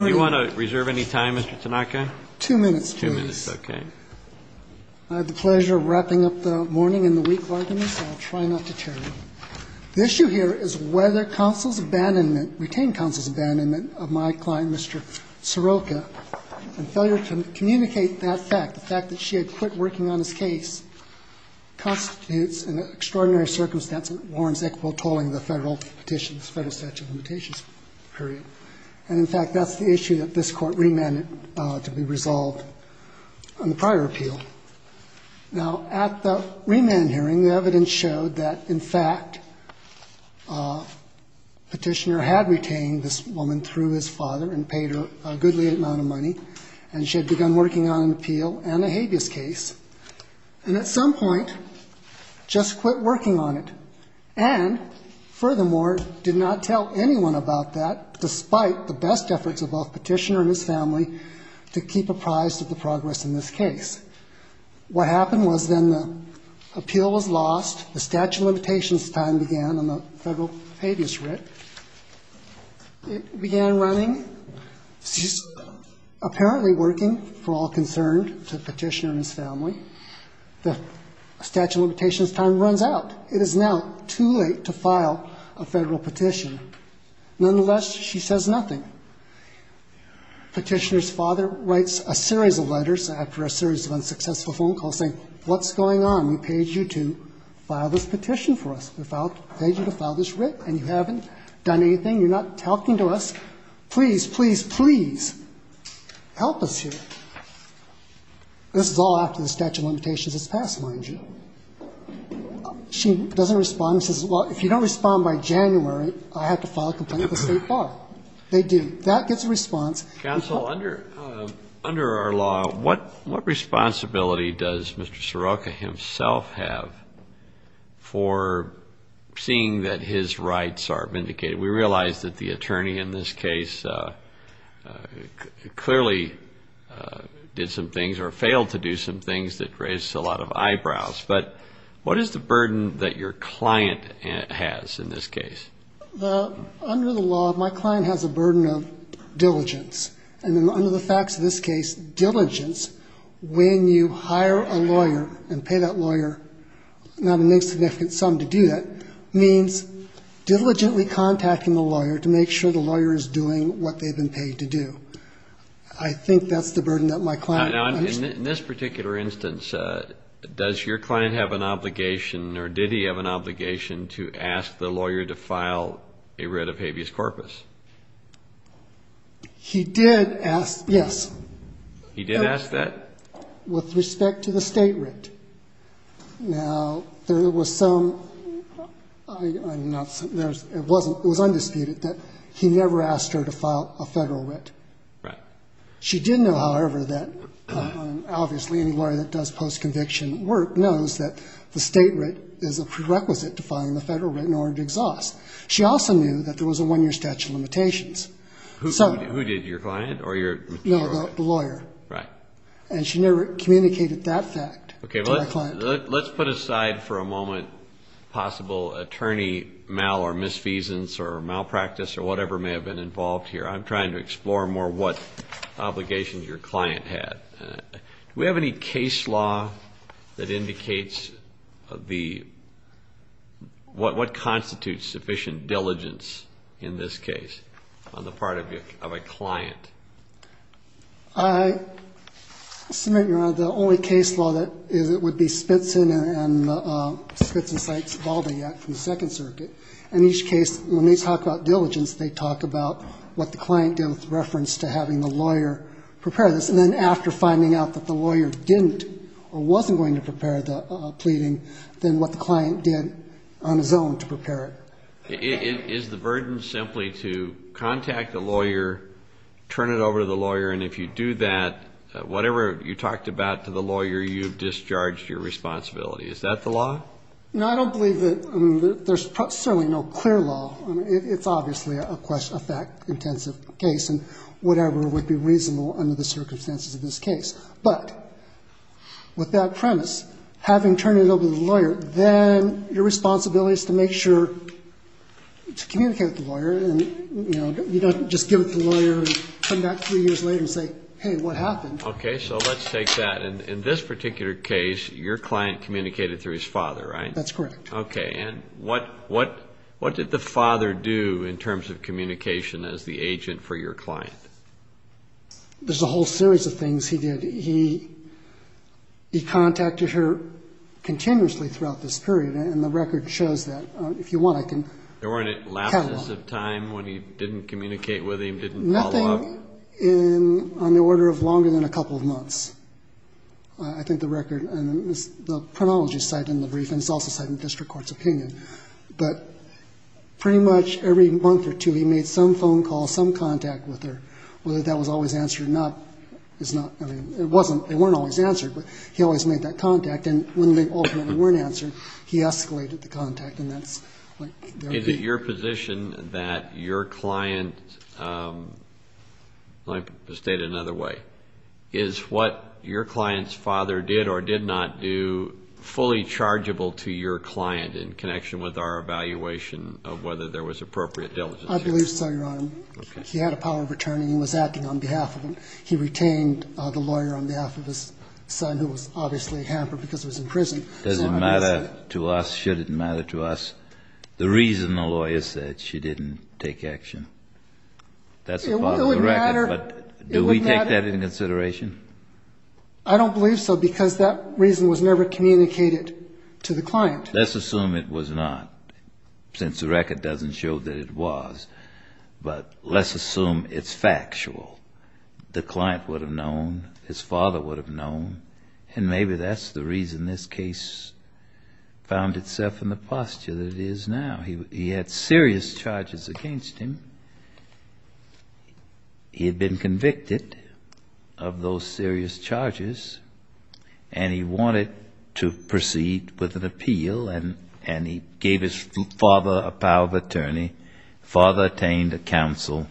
Do you want to reserve any time, Mr. Tanaka? Two minutes, please. Two minutes, okay. I had the pleasure of wrapping up the morning in the week, so I will try not to tear you. The issue here is whether counsel's abandonment, retained counsel's abandonment of my client, Mr. Soroka, and failure to communicate that fact, the fact that she had quit working on his case, constitutes an extraordinary circumstance that warrants equitable tolling of the Federal Statute of Limitations, period. And, in fact, that's the issue that this Court remanded to be resolved on the prior appeal. Now, at the remand hearing, the evidence showed that, in fact, Petitioner had retained this woman through his father and paid her a goodly amount of money, and she had begun working on an appeal and a habeas case and, at some point, just quit working on it and, furthermore, did not tell anyone about that, despite the best efforts of both Petitioner and his family to keep apprised of the progress in this case. What happened was then the appeal was lost, the statute of limitations time began on the federal habeas writ, it began running, she's apparently working, for all concerned, to Petitioner and his family, the statute of limitations time runs out. It is now too late to file a federal petition. Nonetheless, she says nothing. Petitioner's father writes a series of letters after a series of unsuccessful phone calls saying, What's going on? We paid you to file this petition for us. We paid you to file this writ, and you haven't done anything. You're not talking to us. Please, please, please help us here. This is all after the statute of limitations has passed, mind you. She doesn't respond. She says, Well, if you don't respond by January, I have to file a complaint with the State Bar. They do. That gets a response. Counsel, under our law, what responsibility does Mr. Soroka himself have for seeing that his rights are vindicated? We realize that the attorney in this case clearly did some things or failed to do some things that raised a lot of eyebrows, but what is the burden that your client has in this case? Under the law, my client has a burden of diligence. And under the facts of this case, diligence, when you hire a lawyer and pay that lawyer not an insignificant sum to do that, means diligently contacting the lawyer to make sure the lawyer is doing what they've been paid to do. I think that's the burden that my client has. In this particular instance, does your client have an obligation or did he have an obligation to ask the lawyer to file a writ of habeas corpus? He did ask, yes. He did ask that? With respect to the State writ. Now, there was some, it was undisputed, that he never asked her to file a Federal writ. Right. She did know, however, that obviously any lawyer that does post-conviction work knows that the State writ is a prerequisite to filing the Federal writ in order to exhaust. She also knew that there was a one-year statute of limitations. Who did, your client or your... No, the lawyer. Right. And she never communicated that fact to my client. Okay, let's put aside for a moment possible attorney mal or misfeasance or malpractice or whatever may have been involved here. I'm trying to explore more what obligations your client had. Do we have any case law that indicates the, what constitutes sufficient diligence in this case on the part of a client? I submit, Your Honor, the only case law that would be Spitson and Spitson-Sykes-Valdez Act from the Second Circuit. In each case, when they talk about diligence, they talk about what the client did with reference to having the lawyer prepare this. And then after finding out that the lawyer didn't or wasn't going to prepare the pleading, then what the client did on his own to prepare it. Is the burden simply to contact the lawyer, turn it over to the lawyer, and if you do that, whatever you talked about to the lawyer, you've discharged your responsibility. Is that the law? No, I don't believe that. There's certainly no clear law. It's obviously a fact-intensive case, and whatever would be reasonable under the circumstances of this case. But with that premise, having turned it over to the lawyer, then your responsibility is to make sure to communicate with the lawyer. You don't just give it to the lawyer and come back three years later and say, hey, what happened? Okay, so let's take that. In this particular case, your client communicated through his father, right? That's correct. Okay, and what did the father do in terms of communication as the agent for your client? There's a whole series of things he did. He contacted her continuously throughout this period, and the record shows that. If you want, I can catalog. There weren't any lapses of time when he didn't communicate with him, didn't follow up? Nothing on the order of longer than a couple of months. I think the record and the chronology is cited in the brief, and it's also cited in district court's opinion. But pretty much every month or two, he made some phone call, some contact with her. Whether that was always answered or not, it's not. I mean, they weren't always answered, but he always made that contact, and when they ultimately weren't answered, he escalated the contact, and that's... Is it your position that your client... Let me state it another way. Is what your client's father did or did not do fully chargeable to your client in connection with our evaluation of whether there was appropriate diligence? I believe so, Your Honor. He had a power of attorney. He was acting on behalf of him. He retained the lawyer on behalf of his son, who was obviously hampered because he was in prison. Does it matter to us, should it matter to us, the reason the lawyer said she didn't take action? That's the father of the record, but do we take that into consideration? I don't believe so, because that reason was never communicated to the client. Let's assume it was not, since the record doesn't show that it was. But let's assume it's factual. The client would have known. His father would have known. And maybe that's the reason this case found itself in the posture that it is now. He had serious charges against him. He had been convicted of those serious charges, and he wanted to proceed with an appeal, and he gave his father a power of attorney. Father attained a counsel.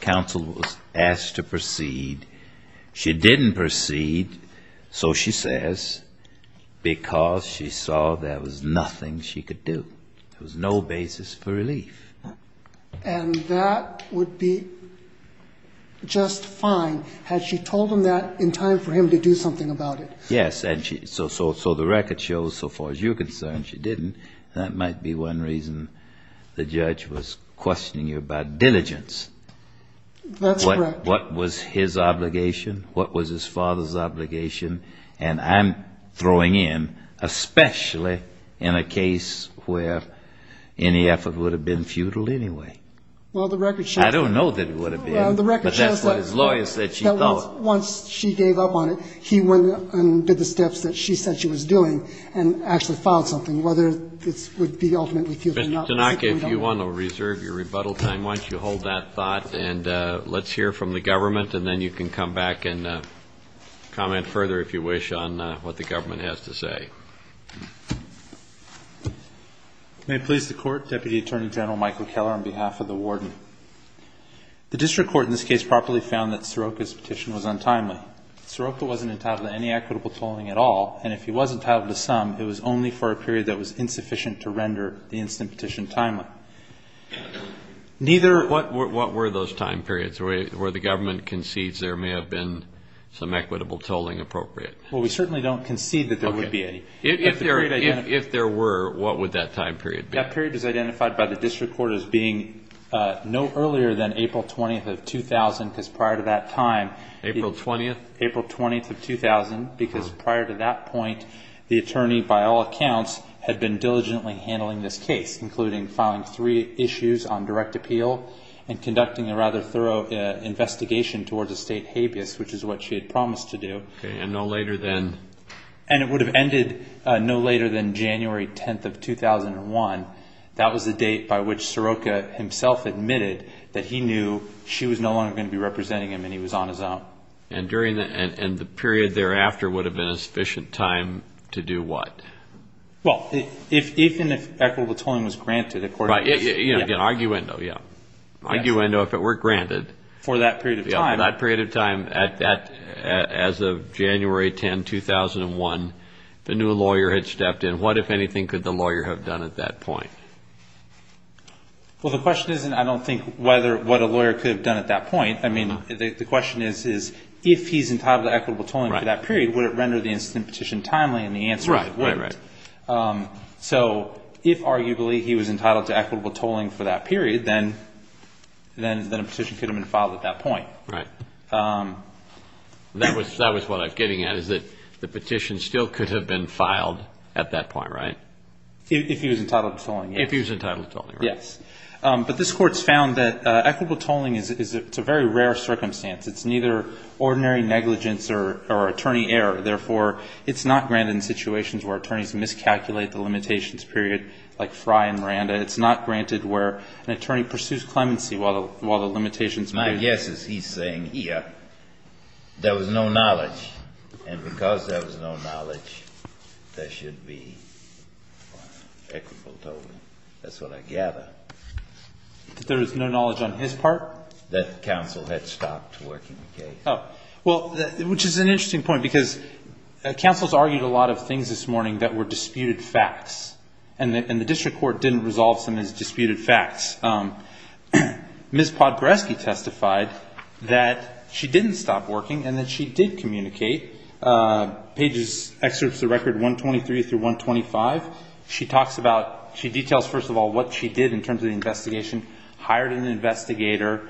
Counsel was asked to proceed. She didn't proceed, so she says, because she saw there was nothing she could do. There was no basis for relief. And that would be just fine. Had she told him that in time for him to do something about it? Yes. So the record shows, so far as you're concerned, she didn't. That might be one reason the judge was questioning you about diligence. That's correct. What was his obligation? What was his father's obligation? And I'm throwing in, especially in a case where any effort would have been futile anyway. I don't know that it would have been, but that's what his lawyer said she thought. Once she gave up on it, he went and did the steps that she said she was doing and actually filed something, whether it would be ultimately futile or not. Mr. Tanaka, if you want to reserve your rebuttal time, why don't you hold that thought, and let's hear from the government, and then you can come back and comment further, if you wish, on what the government has to say. May it please the Court, Deputy Attorney General Michael Keller on behalf of the warden. The district court in this case properly found that Soroka's petition was untimely. Soroka wasn't entitled to any equitable tolling at all, and if he was entitled to some, it was only for a period that was insufficient to render the instant petition timely. What were those time periods where the government concedes there may have been some equitable tolling appropriate? Well, we certainly don't concede that there would be any. If there were, what would that time period be? That period is identified by the district court as being no earlier than April 20, 2000, because prior to that time, April 20? April 20, 2000, because prior to that point, the attorney, by all accounts, had been diligently handling this case, including filing three issues on direct appeal and conducting a rather thorough investigation towards a state habeas, which is what she had promised to do. And no later than? And it would have ended no later than January 10, 2001. That was the date by which Soroka himself admitted that he knew she was no longer going to be representing him and he was on his own. And the period thereafter would have been a sufficient time to do what? Well, even if equitable tolling was granted, according to this. Arguendo, yeah. Arguendo, if it were granted. For that period of time. For that period of time, as of January 10, 2001, the new lawyer had stepped in. What, if anything, could the lawyer have done at that point? Well, the question isn't, I don't think, what a lawyer could have done at that point. I mean, the question is, if he's entitled to equitable tolling for that period, would it render the instant petition timely? And the answer is, it wouldn't. So if, arguably, he was entitled to equitable tolling for that period, then a petition could have been filed at that point. Right. That was what I was getting at, is that the petition still could have been filed at that point, right? If he was entitled to tolling, yes. If he was entitled to tolling, right. Yes. But this Court's found that equitable tolling is a very rare circumstance. It's neither ordinary negligence or attorney error. Therefore, it's not granted in situations where attorneys miscalculate the limitations period, like Fry and Miranda. It's not granted where an attorney pursues clemency while the limitations period. My guess is he's saying here there was no knowledge. And because there was no knowledge, there should be equitable tolling. That's what I gather. There was no knowledge on his part? That counsel had stopped working the case. Well, which is an interesting point because counsel has argued a lot of things this morning that were disputed facts, and the district court didn't resolve some of these disputed facts. Ms. Podgorski testified that she didn't stop working and that she did communicate. Pages, excerpts of Record 123 through 125, she talks about, she details, first of all, what she did in terms of the investigation, hired an investigator,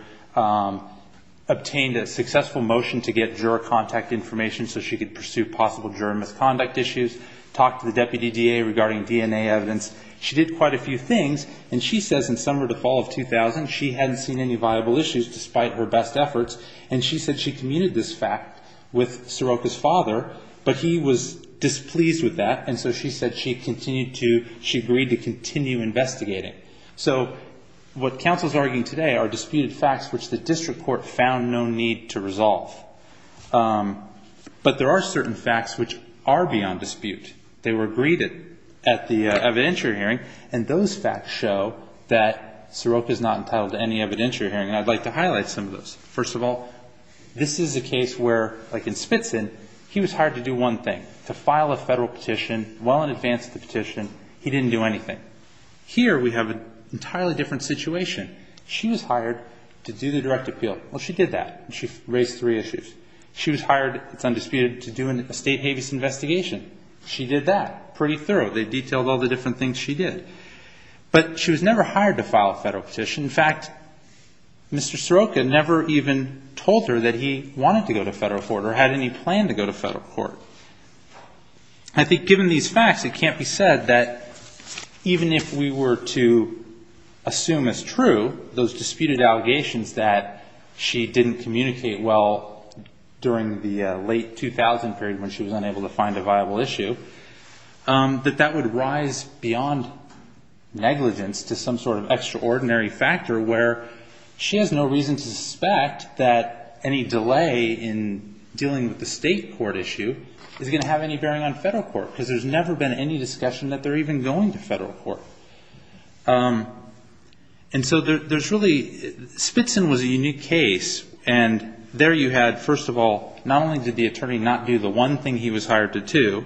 obtained a successful motion to get juror contact information so she could pursue possible juror misconduct issues, talked to the deputy DA regarding DNA evidence. She did quite a few things, and she says in summer to fall of 2000 she hadn't seen any viable issues despite her best efforts, and she said she communed this fact with Soroka's father, but he was displeased with that, and so she said she agreed to continue investigating. So what counsel is arguing today are disputed facts which the district court found no need to resolve, but there are certain facts which are beyond dispute. They were agreed at the evidentiary hearing, and those facts show that Soroka is not entitled to any evidentiary hearing, and I'd like to highlight some of those. First of all, this is a case where, like in Smithson, he was hired to do one thing, to file a Federal petition well in advance of the petition. He didn't do anything. Here we have an entirely different situation. She was hired to do the direct appeal. Well, she did that, and she raised three issues. She was hired, it's undisputed, to do a state habeas investigation. She did that pretty thoroughly. They detailed all the different things she did. But she was never hired to file a Federal petition. In fact, Mr. Soroka never even told her that he wanted to go to Federal court or had any plan to go to Federal court. I think given these facts, it can't be said that even if we were to assume as true those disputed allegations that she didn't communicate well during the late 2000 period when she was unable to find a viable issue, that that would rise beyond negligence to some sort of extraordinary factor where she has no reason to suspect that any delay in dealing with the state court issue is going to have any bearing on Federal court because there's never been any discussion that they're even going to Federal court. And so there's really – Spitson was a unique case, and there you had, first of all, not only did the attorney not do the one thing he was hired to do,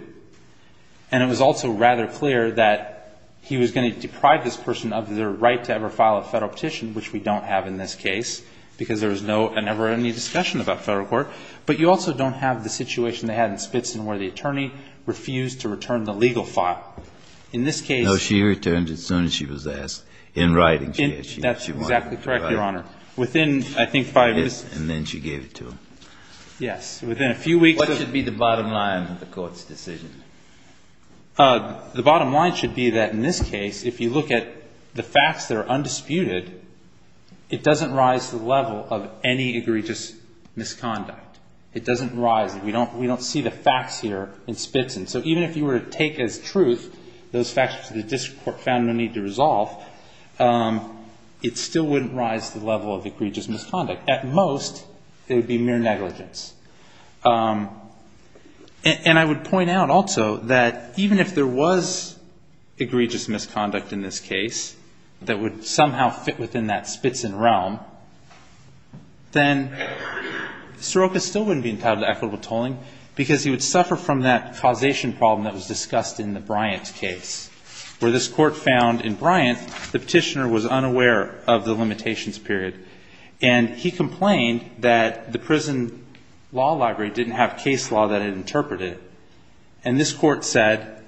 and it was also rather clear that he was going to deprive this person of their right to ever file a Federal petition, which we don't have in this case because there was never any discussion about Federal court, but you also don't have the situation they had in Spitson where the attorney refused to return the legal file. In this case – No, she returned it as soon as she was asked. In writing, she did. That's exactly correct, Your Honor. Within, I think, five – And then she gave it to him. Yes. Within a few weeks – What should be the bottom line of the Court's decision? The bottom line should be that in this case, if you look at the facts that are undisputed, it doesn't rise to the level of any egregious misconduct. It doesn't rise. We don't see the facts here in Spitson. So even if you were to take as truth those facts which the district court found no need to resolve, it still wouldn't rise to the level of egregious misconduct. At most, it would be mere negligence. And I would point out also that even if there was egregious misconduct in this case that would somehow fit within that Spitson realm, then Soroka still wouldn't be entitled to equitable tolling because he would suffer from that causation problem that was discussed in the Bryant case where this court found in Bryant the petitioner was unaware of the limitations period, and he complained that the prison law library didn't have case law that it interpreted. And this court said,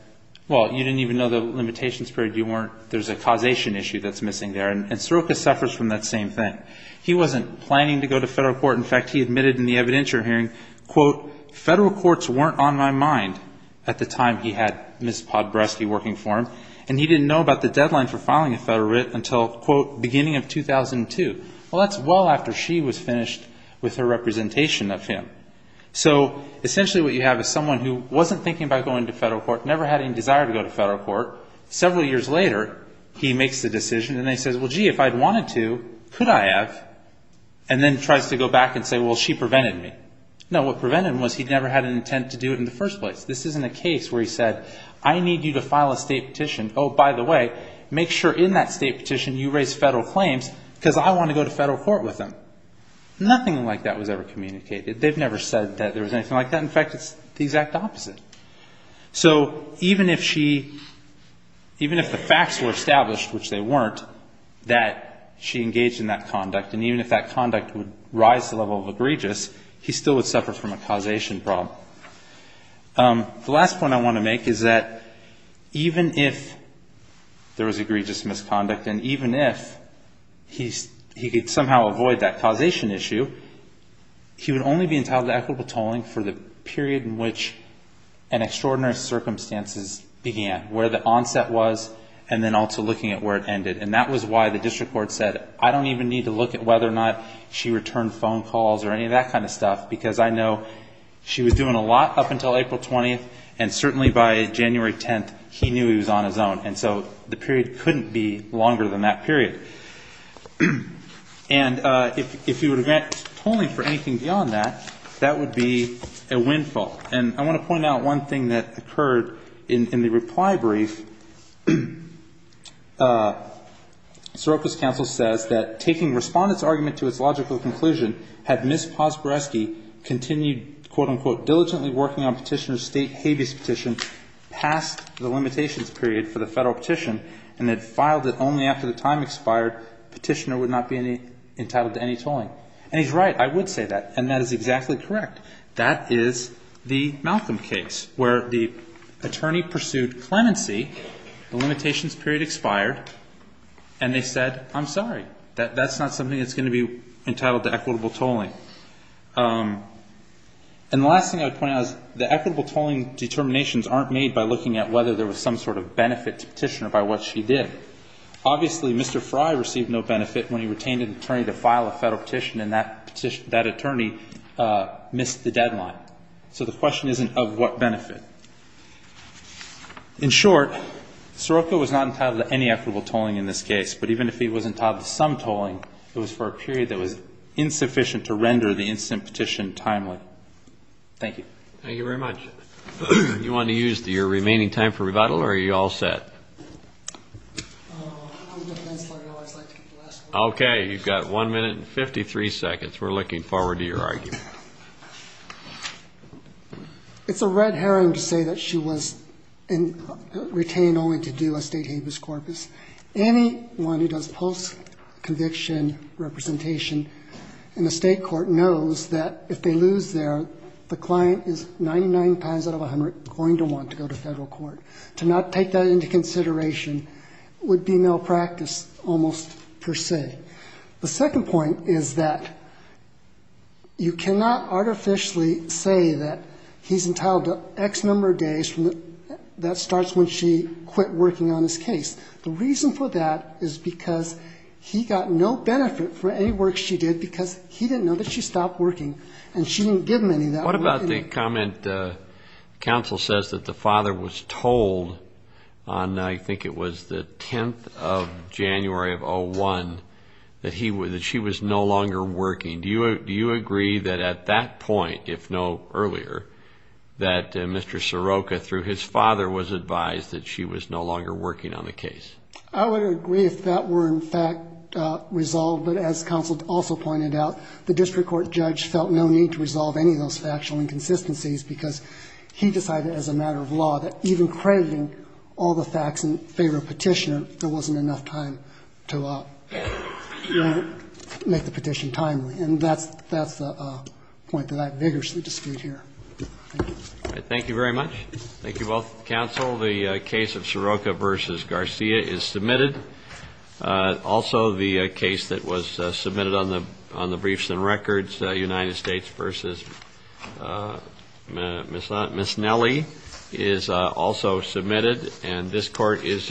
well, you didn't even know the limitations period. You weren't – there's a causation issue that's missing there. And Soroka suffers from that same thing. He wasn't planning to go to federal court. In fact, he admitted in the evidentiary hearing, quote, federal courts weren't on my mind at the time he had Ms. Podbrestky working for him. And he didn't know about the deadline for filing a federal writ until, quote, beginning of 2002. Well, that's well after she was finished with her representation of him. So essentially what you have is someone who wasn't thinking about going to federal court, never had any desire to go to federal court. Several years later, he makes the decision. And then he says, well, gee, if I'd wanted to, could I have? And then tries to go back and say, well, she prevented me. No, what prevented him was he never had an intent to do it in the first place. This isn't a case where he said, I need you to file a state petition. Oh, by the way, make sure in that state petition you raise federal claims because I want to go to federal court with him. Nothing like that was ever communicated. They've never said that there was anything like that. In fact, it's the exact opposite. So even if she – even if the facts were established, which they weren't, that she engaged in that conduct, and even if that conduct would rise to the level of egregious, he still would suffer from a causation problem. The last point I want to make is that even if there was egregious misconduct and even if he could somehow avoid that causation issue, he would only be entitled to equitable tolling for the period in which an extraordinary circumstances began, where the onset was, and then also looking at where it ended. And that was why the district court said, I don't even need to look at whether or not she returned phone calls or any of that kind of stuff because I know she was doing a lot up until April 20th, and certainly by January 10th he knew he was on his own. And so the period couldn't be longer than that period. And if he would grant tolling for anything beyond that, that would be a windfall. And I want to point out one thing that occurred in the reply brief. Sorokas' counsel says that taking Respondent's argument to its logical conclusion, had Ms. Pozbareski continued, quote-unquote, diligently working on Petitioner's state habeas petition past the limitations period for the federal petition and had filed it only after the time expired, Petitioner would not be entitled to any tolling. And he's right. I would say that, and that is exactly correct. That is the Malcolm case, where the attorney pursued clemency the limitations period expired, and they said, I'm sorry. That's not something that's going to be entitled to equitable tolling. And the last thing I would point out is the equitable tolling determinations aren't made by looking at whether there was some sort of benefit to Petitioner by what she did. Obviously, Mr. Fry received no benefit when he retained an attorney to file a federal petition, and that attorney missed the deadline. So the question isn't of what benefit. In short, Soroka was not entitled to any equitable tolling in this case, but even if he was entitled to some tolling, it was for a period that was insufficient to render the instant petition timely. Thank you. Thank you very much. You want to use your remaining time for rebuttal, or are you all set? I would like to take the last one. Okay. You've got 1 minute and 53 seconds. We're looking forward to your argument. It's a red herring to say that she was retained only to do a state habeas corpus. Anyone who does post-conviction representation in the state court knows that if they lose there, the client is 99 times out of 100 going to want to go to federal court. To not take that into consideration would be malpractice almost per se. The second point is that you cannot artificially say that he's entitled to X number of days that starts when she quit working on his case. The reason for that is because he got no benefit for any work she did because he didn't know that she stopped working, and she didn't give him any of that work. What about the comment, counsel says, that the father was told on, I think it was the 10th of January of 2001, that she was no longer working. Do you agree that at that point, if no earlier, that Mr. Soroka, through his father, was advised that she was no longer working on the case? I would agree if that were, in fact, resolved, but as counsel also pointed out, the district court judge felt no need to resolve any of those factual inconsistencies because he decided as a matter of law that even crediting all the facts in favor of petitioner, there wasn't enough time to make the petition timely. And that's the point that I vigorously dispute here. Thank you. Thank you very much. Thank you both. Counsel, the case of Soroka v. Garcia is submitted. Also, the case that was submitted on the briefs and records, United States v. Miss Nellie, is also submitted. And this court is adjourned.